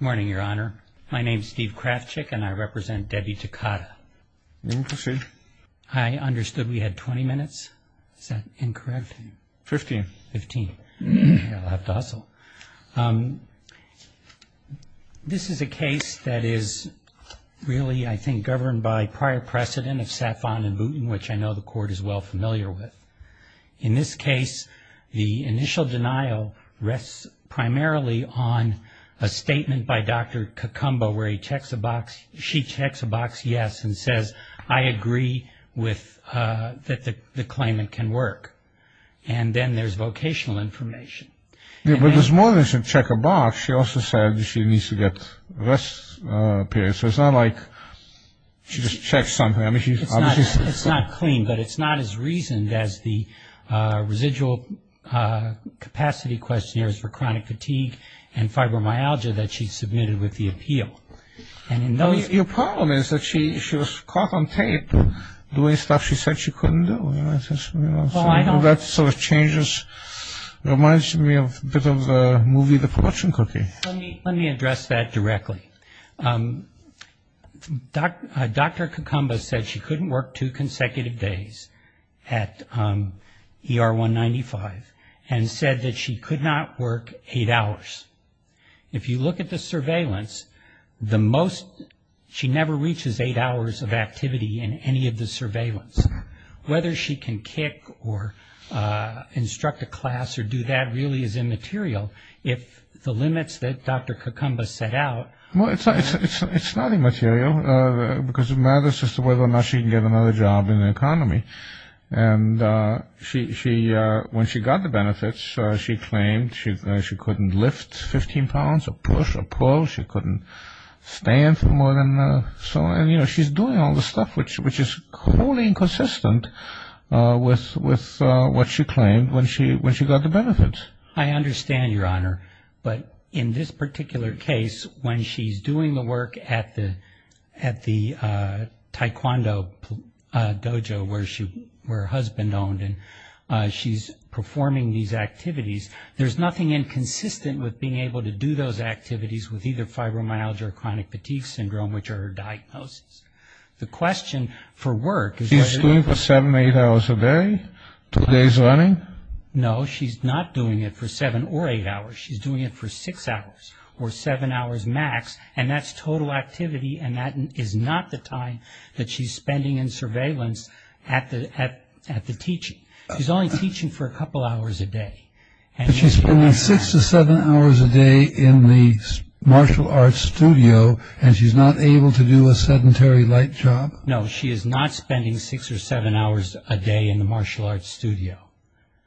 Morning, Your Honor. My name is Steve Krafchick and I represent Debbie Takata. I understand. I understood we had 20 minutes. Is that incorrect? Fifteen. Fifteen. I'll have to hustle. This is a case that is really, I think, governed by prior precedent of Safon and Boonton, which I know the court is well familiar with. In this case, the initial denial rests primarily on a statement by Dr. Kakumbo where he checks a box, she checks a box, yes, and says, I agree that the claimant can work. And then there's vocational information. Yeah, but there's more than just check a box. She also said she needs to get rest periods. So it's not like she just checks something. It's not clean, but it's not as reasoned as the residual capacity questionnaires for chronic fatigue and fibromyalgia that she submitted with the appeal. Your problem is that she was caught on tape doing stuff she said she couldn't do. That sort of changes, reminds me a bit of the movie, The Fortune Cookie. Let me address that directly. Dr. Kakumbo said she couldn't work two consecutive days at ER 195 and said that she could not work eight hours. If you look at the surveillance, she never reaches eight hours of activity in any of the surveillance. Whether she can kick or instruct a class or do that really is immaterial. If the limits that Dr. Kakumbo set out- It's not immaterial because it matters just whether or not she can get another job in the economy. And when she got the benefits, she claimed she couldn't lift 15 pounds or push or pull. She couldn't stand for more than- She's doing all this stuff, which is wholly inconsistent with what she claimed when she got the benefits. I understand, Your Honor, but in this particular case, when she's doing the work at the taekwondo dojo where her husband owned and she's performing these activities, there's nothing inconsistent with being able to do those activities with either fibromyalgia or chronic fatigue syndrome, which are her diagnoses. The question for work- She's doing for seven, eight hours a day, two days running? No, she's not doing it for seven or eight hours. She's doing it for six hours or seven hours max, and that's total activity, and that is not the time that she's spending in surveillance at the teaching. She's only teaching for a couple hours a day. But she's spending six to seven hours a day in the martial arts studio, and she's not able to do a sedentary light job? No, she is not spending six or seven hours a day in the martial arts studio.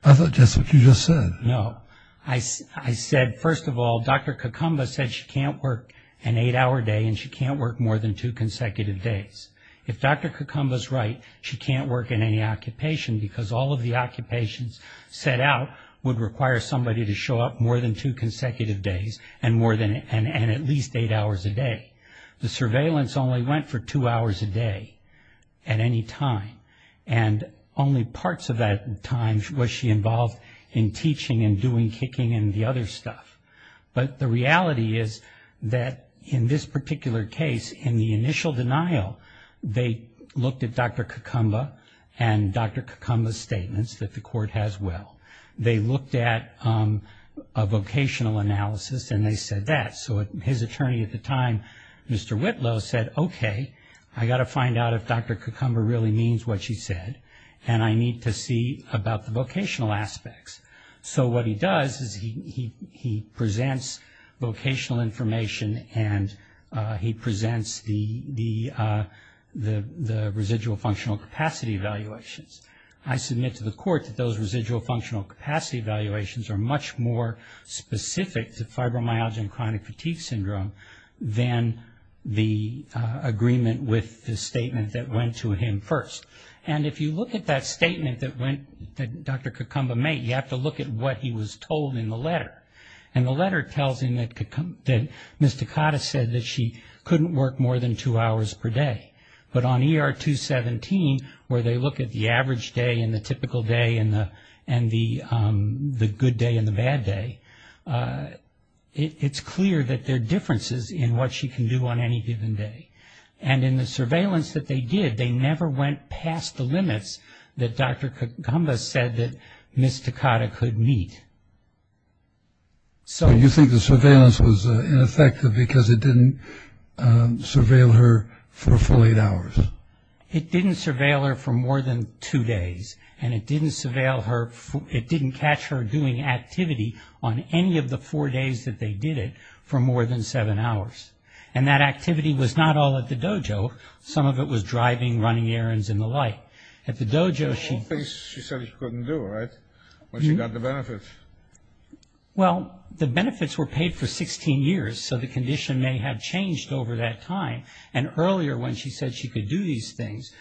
I thought that's what you just said. No. I said, first of all, Dr. Kakumba said she can't work an eight-hour day and she can't work more than two consecutive days. If Dr. Kakumba's right, she can't work in any occupation because all of the occupations set out would require somebody to show up more than two consecutive days and at least eight hours a day. The surveillance only went for two hours a day at any time, and only parts of that time was she involved in teaching and doing kicking and the other stuff. But the reality is that in this particular case, in the initial denial, they looked at Dr. Kakumba and Dr. Kakumba's statements that the court has well. They looked at a vocational analysis, and they said that. So his attorney at the time, Mr. Whitlow, said, okay, I've got to find out if Dr. Kakumba really means what she said, and I need to see about the vocational aspects. So what he does is he presents vocational information and he presents the residual functional capacity evaluations. I submit to the court that those residual functional capacity evaluations are much more specific to fibromyalgia and chronic fatigue syndrome than the agreement with the statement that went to him first. And if you look at that statement that Dr. Kakumba made, you have to look at what he was told in the letter. And the letter tells him that Ms. Takata said that she couldn't work more than two hours per day. But on ER 217, where they look at the average day and the typical day and the good day and the bad day, it's clear that there are differences in what she can do on any given day. And in the surveillance that they did, they never went past the limits that Dr. Kakumba said that Ms. Takata could meet. So you think the surveillance was ineffective because it didn't surveil her for a full eight hours? It didn't surveil her for more than two days, and it didn't catch her doing activity on any of the four days that they did it for more than seven hours. And that activity was not all at the dojo. Some of it was driving, running errands, and the like. The whole thing she said she couldn't do, right, when she got the benefits? Well, the benefits were paid for 16 years, so the condition may have changed over that time. And earlier when she said she could do these things,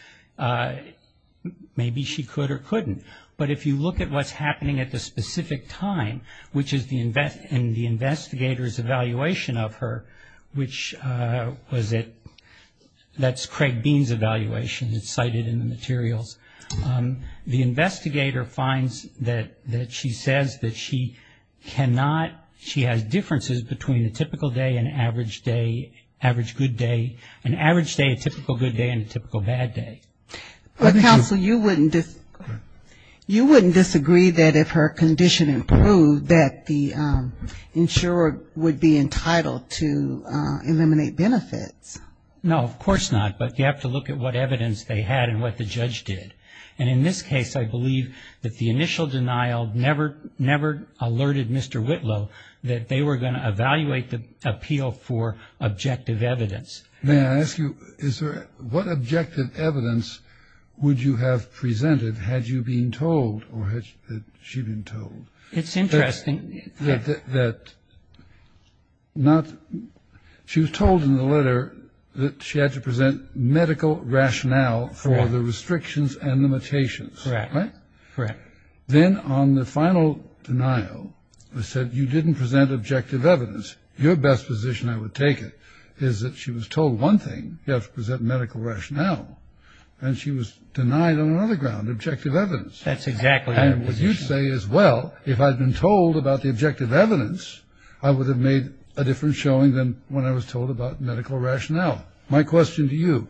maybe she could or couldn't. But if you look at what's happening at the specific time, which is in the investigator's evaluation of her, which was at, that's Craig Bean's evaluation, it's cited in the materials. The investigator finds that she says that she cannot, she has differences between a typical day and average day, average good day. An average day, a typical good day, and a typical bad day. But counsel, you wouldn't disagree that if her condition improved, that the insurer would be entitled to eliminate benefits. No, of course not. But you have to look at what evidence they had and what the judge did. And in this case, I believe that the initial denial never alerted Mr. Whitlow that they were going to evaluate the appeal for objective evidence. May I ask you, what objective evidence would you have presented had you been told, or had she been told? It's interesting. That not, she was told in the letter that she had to present medical rationale for the restrictions and limitations. Correct. Right? Correct. Then on the final denial, they said you didn't present objective evidence. Your best position, I would take it, is that she was told one thing, you have to present medical rationale. And she was denied on another ground, objective evidence. That's exactly right. And what you'd say is, well, if I'd been told about the objective evidence, I would have made a different showing than when I was told about medical rationale. My question to you,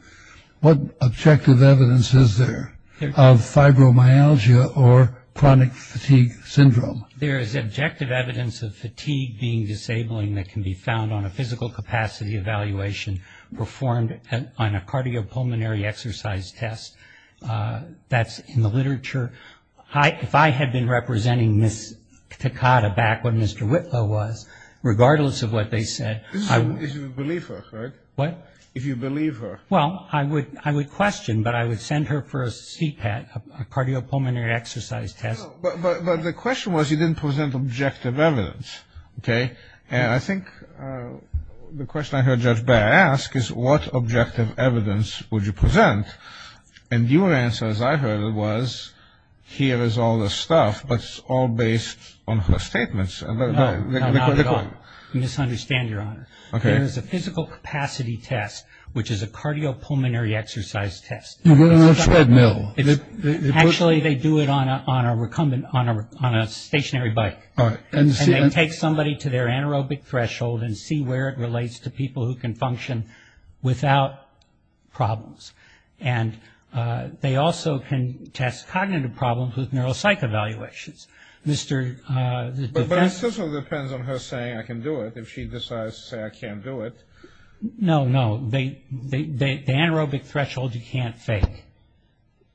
what objective evidence is there of fibromyalgia or chronic fatigue syndrome? There is objective evidence of fatigue being disabling that can be found on a physical capacity evaluation performed on a cardiopulmonary exercise test. That's in the literature. If I had been representing Ms. Takada back when Mr. Whitlow was, regardless of what they said, I would If you believe her, right? What? If you believe her. Well, I would question, but I would send her for a CPAT, a cardiopulmonary exercise test. But the question was you didn't present objective evidence, okay? And I think the question I heard Judge Baird ask is, what objective evidence would you present? And your answer, as I heard it, was, here is all this stuff, but it's all based on her statements. No, not at all. You misunderstand, Your Honor. There is a physical capacity test, which is a cardiopulmonary exercise test. It's a treadmill. Actually, they do it on a stationary bike. And they take somebody to their anaerobic threshold and see where it relates to people who can function without problems. And they also can test cognitive problems with neuropsych evaluations. But it also depends on her saying I can do it, if she decides to say I can't do it. No, no. The anaerobic threshold you can't fake.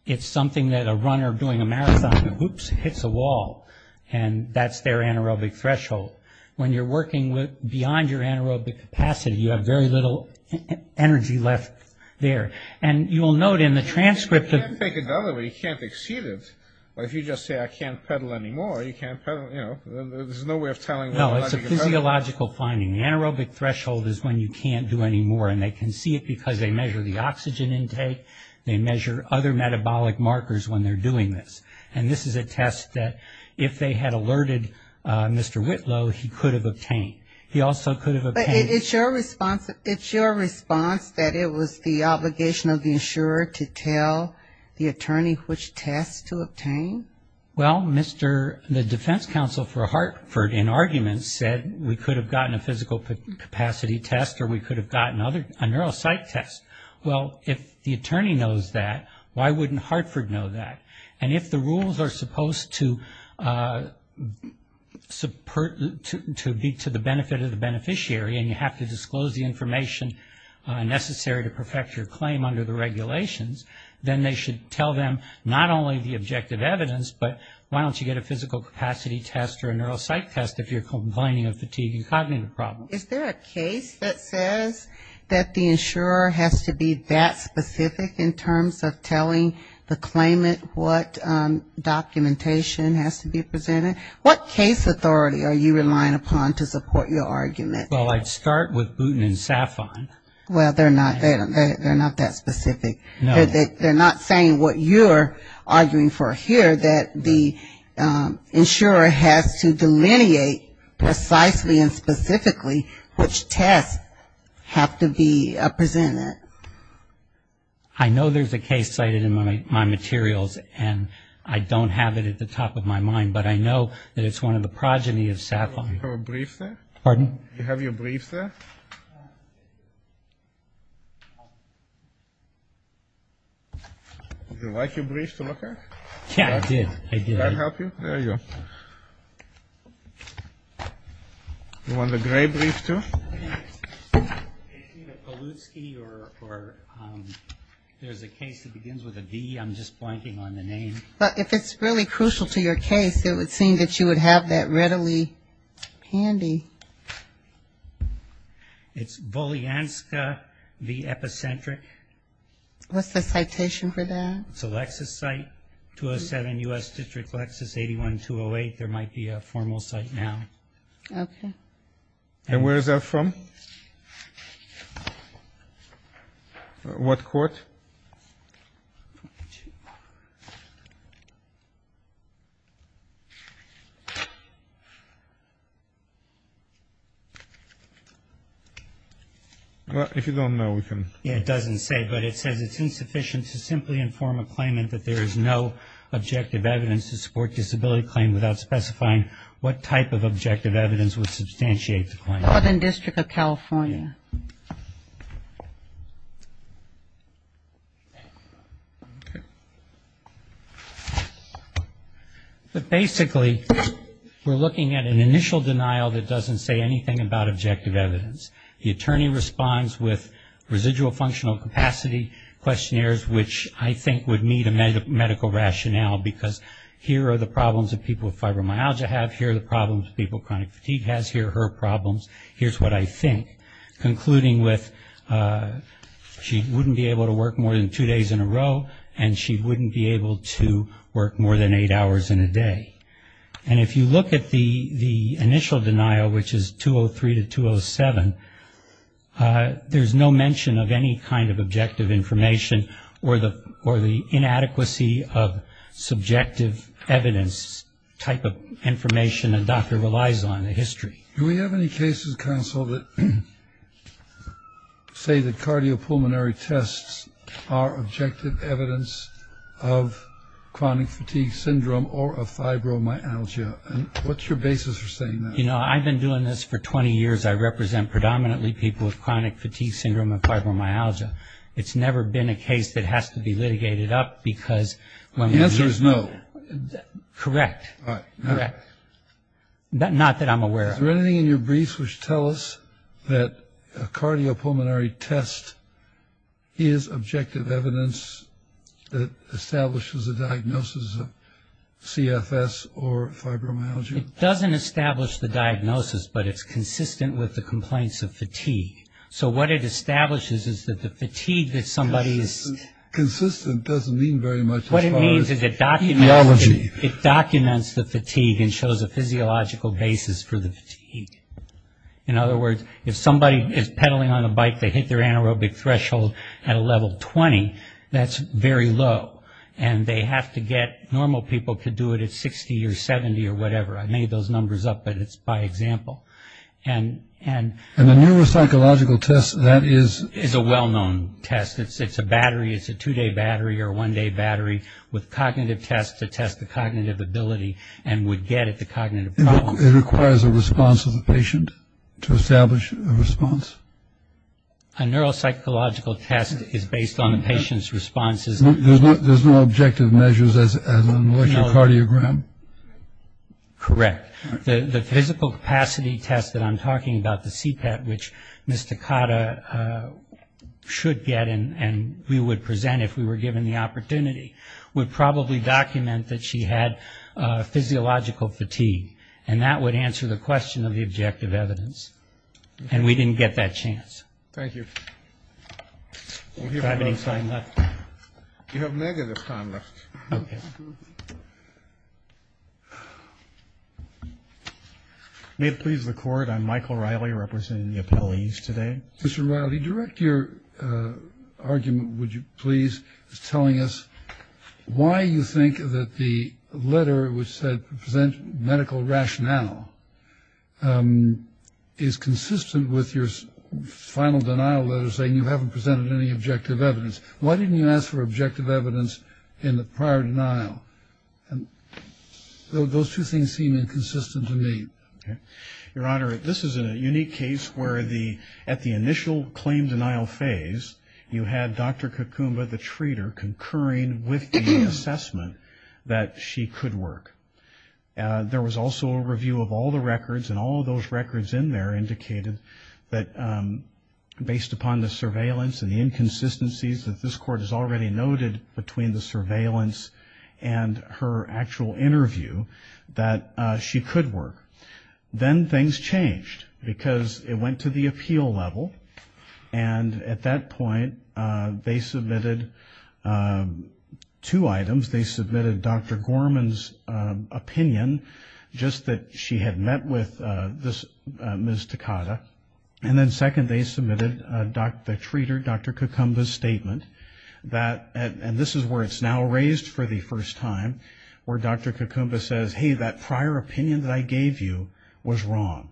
It's something that a runner doing a marathon, whoops, hits a wall. And that's their anaerobic threshold. When you're working beyond your anaerobic capacity, you have very little energy left there. And you will note in the transcript that you can't exceed it. But if you just say I can't pedal anymore, you can't pedal, you know, there's no way of telling. No, it's a physiological finding. The anaerobic threshold is when you can't do any more. And they can see it because they measure the oxygen intake. They measure other metabolic markers when they're doing this. And this is a test that if they had alerted Mr. Whitlow, he could have obtained. He also could have obtained. But it's your response that it was the obligation of the insurer to tell the attorney which test to obtain? Well, Mr. the defense counsel for Hartford in argument said we could have gotten a physical capacity test or we could have gotten a neuropsych test. Well, if the attorney knows that, why wouldn't Hartford know that? And if the rules are supposed to be to the benefit of the beneficiary and you have to disclose the information necessary to perfect your claim under the regulations, then they should tell them not only the objective evidence, but why don't you get a physical capacity test or a neuropsych test if you're complaining of fatigue and cognitive problems? Is there a case that says that the insurer has to be that specific in terms of telling the claimant what documentation has to be presented? What case authority are you relying upon to support your argument? Well, I'd start with Booten and Safon. Well, they're not that specific. No. They're not saying what you're arguing for here, that the insurer has to delineate precisely and specifically which tests have to be presented. I know there's a case cited in my materials, and I don't have it at the top of my mind, but I know that it's one of the progeny of Safon. Do you have a brief there? Pardon? Do you have your brief there? Do you like your brief to look at? Yeah, I did. I did. Did I help you? There you go. You want the gray brief, too? It's either Polutski or there's a case that begins with a D. I'm just blanking on the name. Well, if it's really crucial to your case, it would seem that you would have that readily handy. It's Bolyanska v. Epicentric. What's the citation for that? It's a Lexis site, 207 U.S. District Lexis, 81208. There might be a formal site now. Okay. And where is that from? What court? If you don't know, we can. Yeah, it doesn't say, but it says it's insufficient to simply inform a claimant that there is no objective evidence to support disability claim without specifying what type of objective evidence would substantiate the claim. Northern District of California. Okay. But basically, we're looking at an initial denial that doesn't say anything about objective evidence. The attorney responds with residual functional capacity questionnaires, which I think would meet a medical rationale, because here are the problems that people with fibromyalgia have, here are the problems that people with chronic fatigue has, here are her problems, here's what I think. Concluding with she wouldn't be able to work more than two days in a row and she wouldn't be able to work more than eight hours in a day. And if you look at the initial denial, which is 203 to 207, there's no mention of any kind of objective information or the inadequacy of subjective evidence type of information a doctor relies on in history. Do we have any cases, counsel, that say that cardiopulmonary tests are objective evidence of chronic fatigue syndrome or of fibromyalgia? And what's your basis for saying that? You know, I've been doing this for 20 years. I represent predominantly people with chronic fatigue syndrome and fibromyalgia. It's never been a case that has to be litigated up because when we've been... The answer is no. Correct. Correct. Not that I'm aware of. Is there anything in your briefs which tell us that a cardiopulmonary test is objective evidence that establishes a diagnosis of CFS or fibromyalgia? It doesn't establish the diagnosis, but it's consistent with the complaints of fatigue. So what it establishes is that the fatigue that somebody is... Consistent doesn't mean very much as far as... What it means is it documents... It documents the fatigue and shows a physiological basis for the fatigue. In other words, if somebody is pedaling on a bike, they hit their anaerobic threshold at a level 20, that's very low, and they have to get... Normal people could do it at 60 or 70 or whatever. I made those numbers up, but it's by example. And a neuropsychological test, that is... Is a well-known test. It's a battery. It's a two-day battery or a one-day battery with cognitive tests to test the cognitive ability and would get at the cognitive problem. It requires a response of the patient to establish a response? A neuropsychological test is based on the patient's responses. There's no objective measures as an electrocardiogram? Correct. The physical capacity test that I'm talking about, the CPAT, which Ms. Takata should get and we would present if we were given the opportunity, would probably document that she had physiological fatigue, and that would answer the question of the objective evidence. And we didn't get that chance. Thank you. Do I have any time left? You have negative time left. Okay. May it please the Court, I'm Michael Riley representing the appellees today. Mr. Riley, direct your argument, would you please, telling us why you think that the letter which said present medical rationale is consistent with your final denial letter saying you haven't presented any objective evidence. Why didn't you ask for objective evidence in the prior denial? Those two things seem inconsistent to me. Your Honor, this is a unique case where at the initial claim denial phase, you had Dr. Kakumba, the treater, concurring with the assessment that she could work. There was also a review of all the records, and all of those records in there indicated that based upon the surveillance and the inconsistencies that this Court has already noted between the surveillance and her actual interview, that she could work. Then things changed because it went to the appeal level, and at that point they submitted two items. They submitted Dr. Gorman's opinion, just that she had met with Ms. Takada. And then second, they submitted the treater, Dr. Kakumba's statement, and this is where it's now raised for the first time where Dr. Kakumba says, hey, that prior opinion that I gave you was wrong.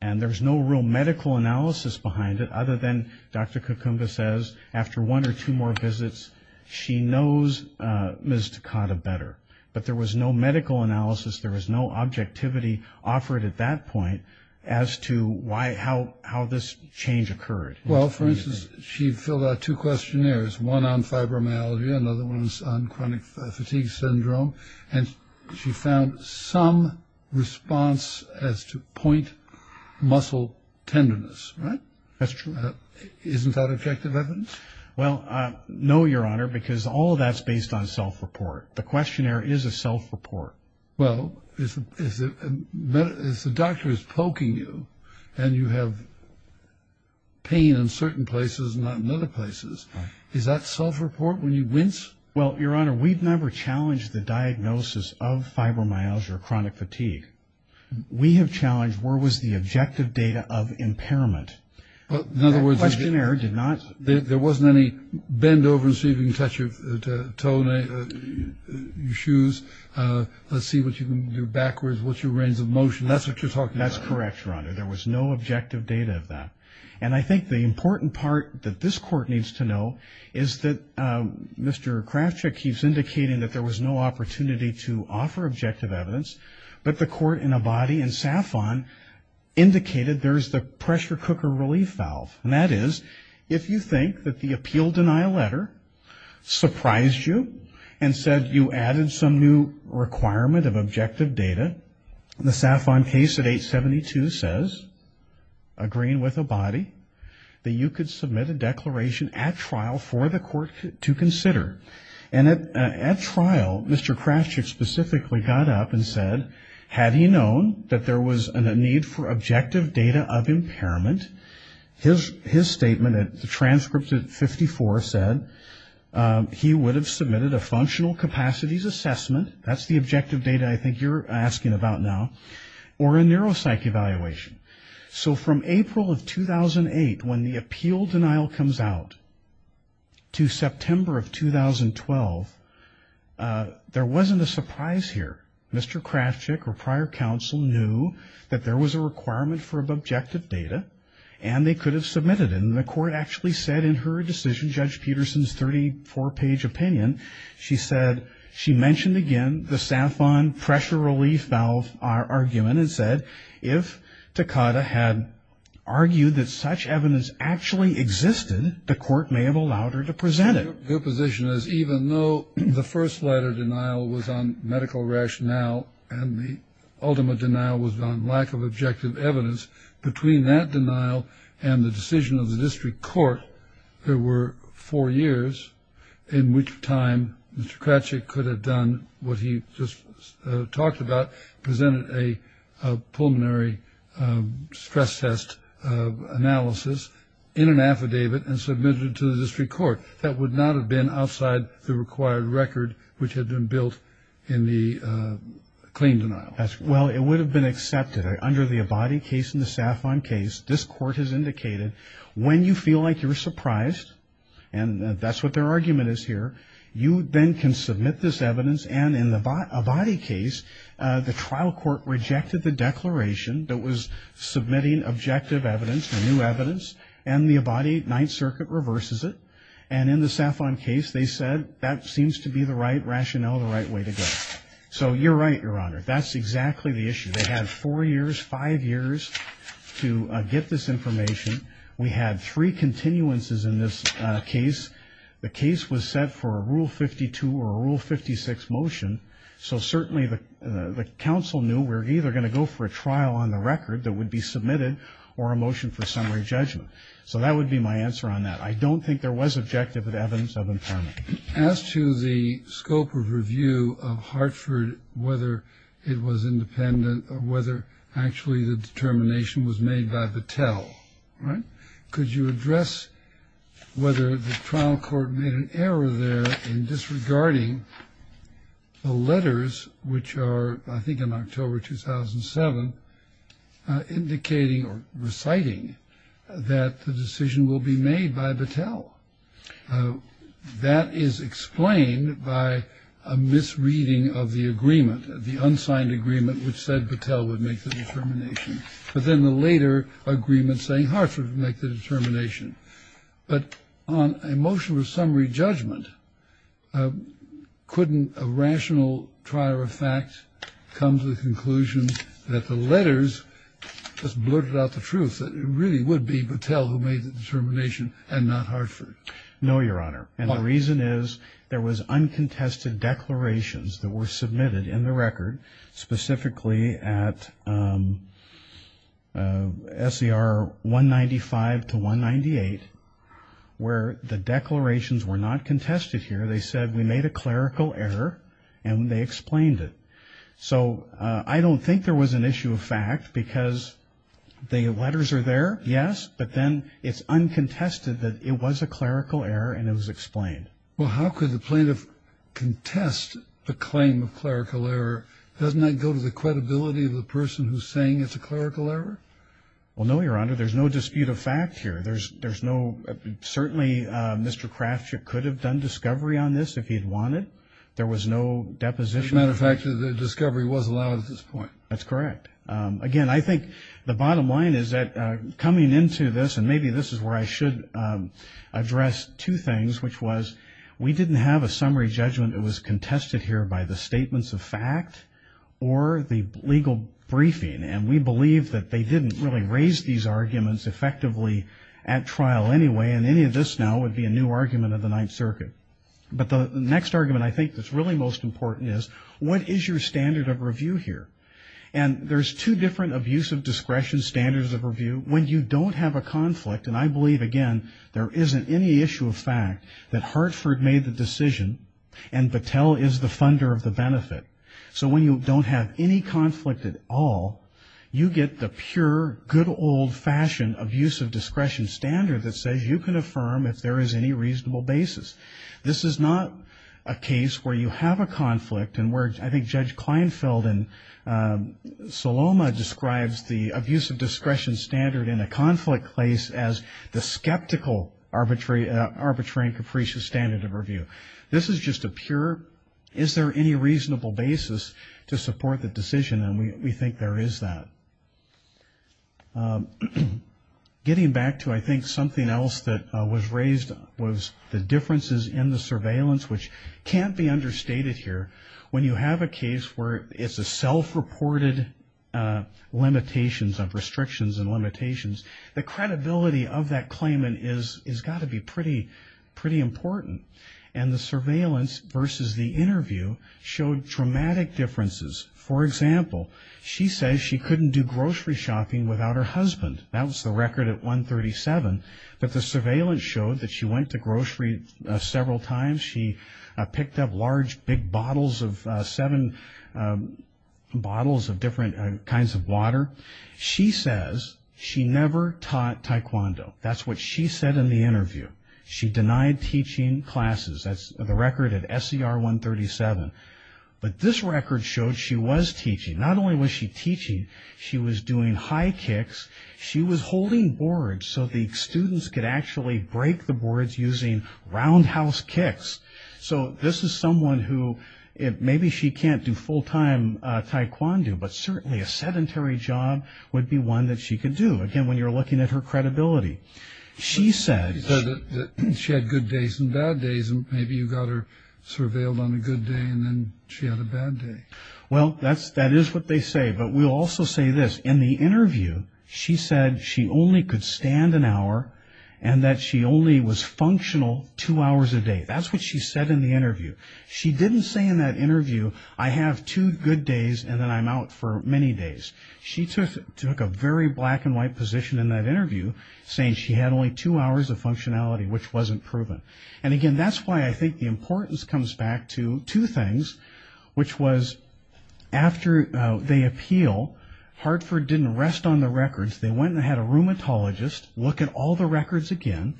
And there's no real medical analysis behind it other than Dr. Kakumba says after one or two more visits she knows Ms. Takada better. But there was no medical analysis, there was no objectivity offered at that point as to how this change occurred. Well, for instance, she filled out two questionnaires, one on fibromyalgia, another one on chronic fatigue syndrome, and she found some response as to point muscle tenderness, right? That's true. Isn't that objective evidence? Well, no, Your Honor, because all of that's based on self-report. The questionnaire is a self-report. Well, if the doctor is poking you and you have pain in certain places and not in other places, is that self-report when you wince? Well, Your Honor, we've never challenged the diagnosis of fibromyalgia or chronic fatigue. We have challenged where was the objective data of impairment. The questionnaire did not. There wasn't any bend over and see if you can touch your toe, your shoes, let's see what you can do backwards, what's your range of motion. That's what you're talking about. That's correct, Your Honor. There was no objective data of that. And I think the important part that this Court needs to know is that Mr. Kravchuk keeps indicating that there was no opportunity to offer objective evidence, but the Court in Abadie and Safon indicated there's the pressure cooker relief valve. And that is if you think that the appeal denial letter surprised you and said you added some new requirement of objective data, the Safon case at 872 says, agreeing with Abadie, that you could submit a declaration at trial for the Court to consider. And at trial, Mr. Kravchuk specifically got up and said, had he known that there was a need for objective data of impairment, his statement at the transcript at 54 said he would have submitted a functional capacities assessment, that's the objective data I think you're asking about now, or a neuropsych evaluation. So from April of 2008 when the appeal denial comes out to September of 2012, there wasn't a surprise here. Mr. Kravchuk or prior counsel knew that there was a requirement for objective data and they could have submitted it. And the Court actually said in her decision, Judge Peterson's 34-page opinion, she mentioned again the Safon pressure relief valve argument and then it said if Takada had argued that such evidence actually existed, the Court may have allowed her to present it. Your position is even though the first letter denial was on medical rationale and the ultimate denial was on lack of objective evidence, between that denial and the decision of the District Court, there were four years in which time Mr. Kravchuk could have done what he just talked about, presented a pulmonary stress test analysis in an affidavit and submitted it to the District Court. That would not have been outside the required record which had been built in the claim denial. Well, it would have been accepted. Under the Abadie case and the Safon case, this Court has indicated when you feel like you're surprised, and that's what their argument is here, you then can submit this evidence and in the Abadie case, the trial court rejected the declaration that was submitting objective evidence, new evidence, and the Abadie Ninth Circuit reverses it. And in the Safon case, they said that seems to be the right rationale, the right way to go. So you're right, Your Honor. That's exactly the issue. They had four years, five years to get this information. We had three continuances in this case. The case was set for a Rule 52 or a Rule 56 motion, so certainly the counsel knew we were either going to go for a trial on the record that would be submitted or a motion for summary judgment. So that would be my answer on that. I don't think there was objective evidence of impairment. As to the scope of review of Hartford, whether it was independent or whether actually the determination was made by Battelle, right, could you address whether the trial court made an error there in disregarding the letters, which are I think in October 2007, indicating or reciting that the decision will be made by Battelle. That is explained by a misreading of the agreement, the unsigned agreement which said Battelle would make the determination. But then the later agreement saying Hartford would make the determination. But on a motion for summary judgment, couldn't a rational trier of fact come to the conclusion that the letters just blurted out the truth, that it really would be Battelle who made the determination and not Hartford? No, Your Honor. And the reason is there was uncontested declarations that were submitted in the record, specifically at SER 195 to 198, where the declarations were not contested here. They said we made a clerical error and they explained it. So I don't think there was an issue of fact because the letters are there, yes, but then it's uncontested that it was a clerical error and it was explained. Well, how could the plaintiff contest the claim of clerical error? Doesn't that go to the credibility of the person who's saying it's a clerical error? Well, no, Your Honor. There's no dispute of fact here. There's no – certainly Mr. Krafchick could have done discovery on this if he had wanted. There was no deposition. As a matter of fact, the discovery was allowed at this point. That's correct. Again, I think the bottom line is that coming into this, and maybe this is where I should address two things, which was we didn't have a summary judgment. It was contested here by the statements of fact or the legal briefing, and we believe that they didn't really raise these arguments effectively at trial anyway, and any of this now would be a new argument of the Ninth Circuit. But the next argument I think that's really most important is what is your standard of review here? When you don't have a conflict, and I believe, again, there isn't any issue of fact that Hartford made the decision and Battelle is the funder of the benefit. So when you don't have any conflict at all, you get the pure, good old-fashioned abuse of discretion standard that says you can affirm if there is any reasonable basis. This is not a case where you have a conflict and where I think Judge Kleinfeld and Saloma describes the abuse of discretion standard in a conflict place as the skeptical arbitrary and capricious standard of review. This is just a pure is there any reasonable basis to support the decision, and we think there is that. Getting back to I think something else that was raised was the differences in the surveillance, which can't be understated here. When you have a case where it's a self-reported limitations of restrictions and limitations, the credibility of that claimant has got to be pretty important, and the surveillance versus the interview showed dramatic differences. For example, she says she couldn't do grocery shopping without her husband. That was the record at 137, but the surveillance showed that she went to grocery several times. She picked up large big bottles of seven bottles of different kinds of water. She says she never taught taekwondo. That's what she said in the interview. She denied teaching classes. That's the record at SER 137, but this record showed she was teaching. Not only was she teaching, she was doing high kicks. She was holding boards so the students could actually break the boards using roundhouse kicks. So this is someone who maybe she can't do full-time taekwondo, but certainly a sedentary job would be one that she could do, again, when you're looking at her credibility. She said that she had good days and bad days, and maybe you got her surveilled on a good day, and then she had a bad day. Well, that is what they say, but we'll also say this. In the interview, she said she only could stand an hour and that she only was functional two hours a day. That's what she said in the interview. She didn't say in that interview, I have two good days and then I'm out for many days. She took a very black-and-white position in that interview, saying she had only two hours of functionality, which wasn't proven. And, again, that's why I think the importance comes back to two things, which was after they appeal, Hartford didn't rest on the records. They went and had a rheumatologist look at all the records again,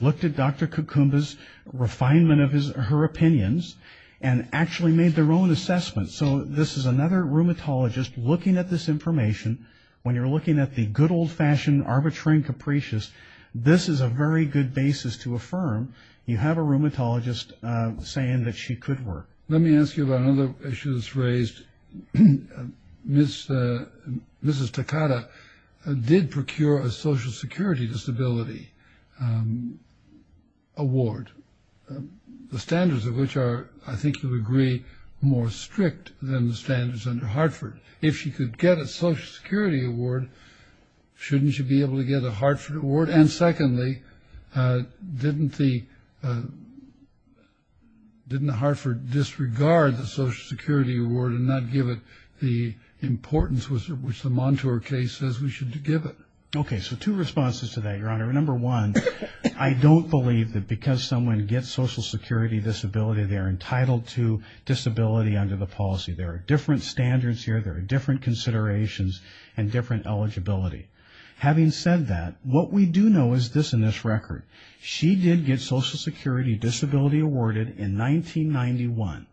looked at Dr. Kukumba's refinement of her opinions, and actually made their own assessments. So this is another rheumatologist looking at this information. When you're looking at the good, old-fashioned, arbitrary and capricious, this is a very good basis to affirm you have a rheumatologist saying that she could work. Let me ask you about another issue that's raised. Mrs. Takada did procure a Social Security Disability Award, the standards of which are, I think you'll agree, more strict than the standards under Hartford. If she could get a Social Security Award, shouldn't she be able to get a Hartford Award? And, secondly, didn't Hartford disregard the Social Security Award and not give it the importance which the Montour case says we should give it? Okay, so two responses to that, Your Honor. Number one, I don't believe that because someone gets Social Security Disability, they're entitled to disability under the policy. There are different standards here. There are different considerations and different eligibility. Having said that, what we do know is this in this record. She did get Social Security Disability Awarded in 1991.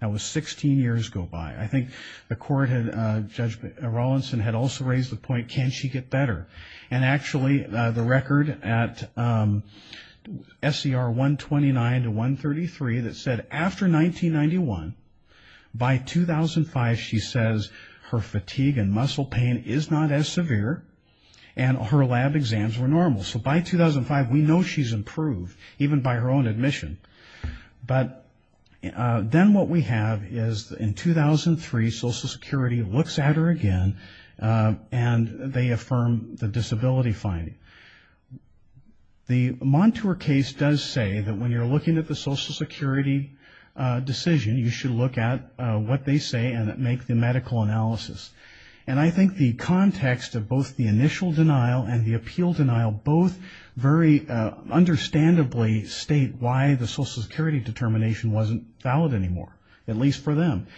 That was 16 years go by. I think Judge Rawlinson had also raised the point, can she get better? And, actually, the record at SCR 129 to 133 that said after 1991, by 2005 she says her fatigue and muscle pain is not as severe and her lab exams were normal. So by 2005 we know she's improved, even by her own admission. But then what we have is in 2003 Social Security looks at her again and they affirm the disability finding. The Montour case does say that when you're looking at the Social Security decision, you should look at what they say and make the medical analysis. And I think the context of both the initial denial and the appeal denial both very understandably state why the Social Security determination wasn't valid anymore, at least for them.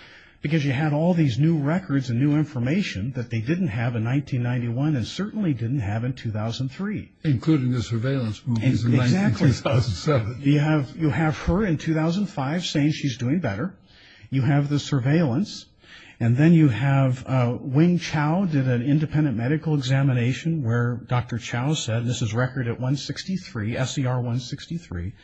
Because you had all these new records and new information that they didn't have in 1991 and certainly didn't have in 2003. Including the surveillance movies in 2007. You have her in 2005 saying she's doing better. You have the surveillance. And then you have Wing Chow did an independent medical examination where Dr. Chow said, this is record at 163, SCR 163,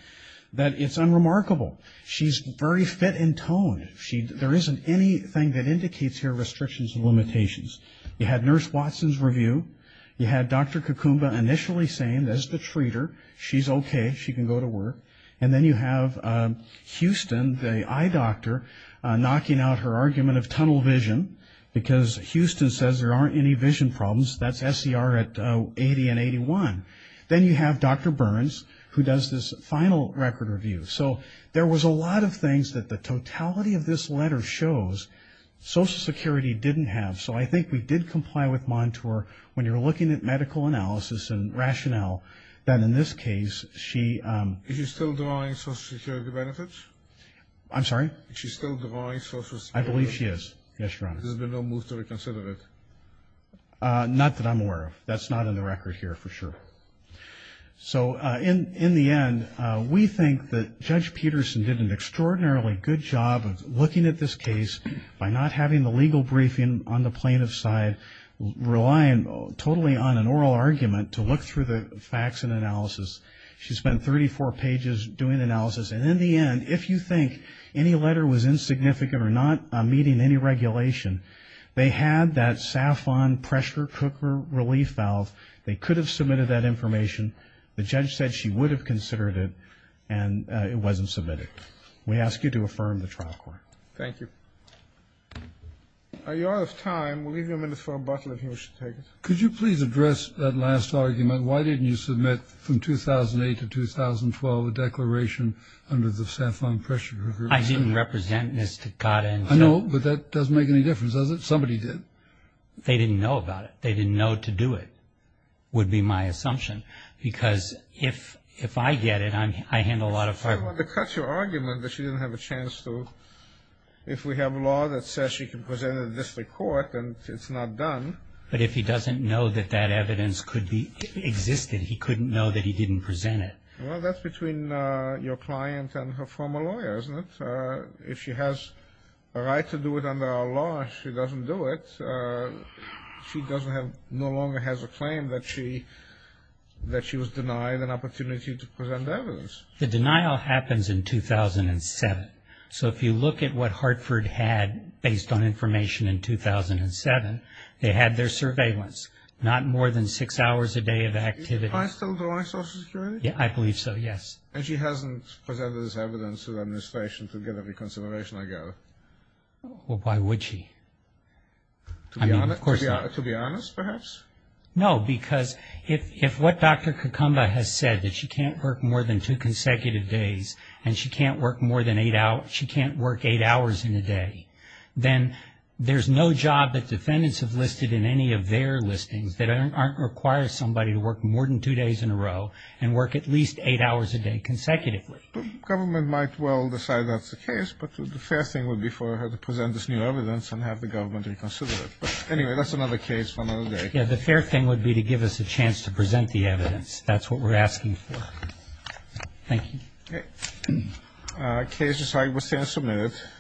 that it's unremarkable. She's very fit and toned. There isn't anything that indicates her restrictions and limitations. You had Nurse Watson's review. You had Dr. Kakumba initially saying this is the treater. She's okay. She can go to work. And then you have Houston, the eye doctor, knocking out her argument of tunnel vision because Houston says there aren't any vision problems. That's SCR at 80 and 81. Then you have Dr. Burns who does this final record review. So there was a lot of things that the totality of this letter shows Social Security didn't have. So I think we did comply with Montour when you're looking at medical analysis and rationale that in this case she Is she still denying Social Security benefits? I'm sorry? Is she still denying Social Security benefits? I believe she is. Yes, Your Honor. There's been no move to reconsider it? Not that I'm aware of. That's not in the record here for sure. So in the end, we think that Judge Peterson did an extraordinarily good job of looking at this case by not having the legal briefing on the plaintiff's side, relying totally on an oral argument to look through the facts and analysis. She spent 34 pages doing analysis. And in the end, if you think any letter was insignificant or not meeting any regulation, they had that Safon pressure cooker relief valve. They could have submitted that information. The judge said she would have considered it, and it wasn't submitted. We ask you to affirm the trial court. Thank you. Are you out of time? We'll leave you a minute for rebuttal if you wish to take it. Could you please address that last argument? Why didn't you submit from 2008 to 2012 a declaration under the Safon pressure cooker? I didn't represent Ms. Takata. I know, but that doesn't make any difference, does it? Somebody did. They didn't know about it. They didn't know to do it, would be my assumption, because if I get it, I handle a lot of problems. I want to cut your argument that she didn't have a chance to, if we have a law that says she can present it at the district court and it's not done. But if he doesn't know that that evidence could be existed, he couldn't know that he didn't present it. Well, that's between your client and her former lawyer, isn't it? If she has a right to do it under our law and she doesn't do it, she no longer has a claim that she was denied an opportunity to present evidence. The denial happens in 2007. So if you look at what Hartford had based on information in 2007, they had their surveillance. Not more than six hours a day of activity. Do I still deny social security? I believe so, yes. And she hasn't presented this evidence to the administration to get a reconsideration, I gather. Well, why would she? I mean, of course not. To be honest, perhaps? No, because if what Dr. Kakumba has said, that she can't work more than two consecutive days and she can't work eight hours in a day, then there's no job that defendants have listed in any of their listings that requires somebody to work more than two days in a row and work at least eight hours a day consecutively. The government might well decide that's the case, but the fair thing would be for her to present this new evidence and have the government reconsider it. Anyway, that's another case for another day. Yeah, the fair thing would be to give us a chance to present the evidence. That's what we're asking for. Thank you. Okay. Case decided. We'll stand submitted.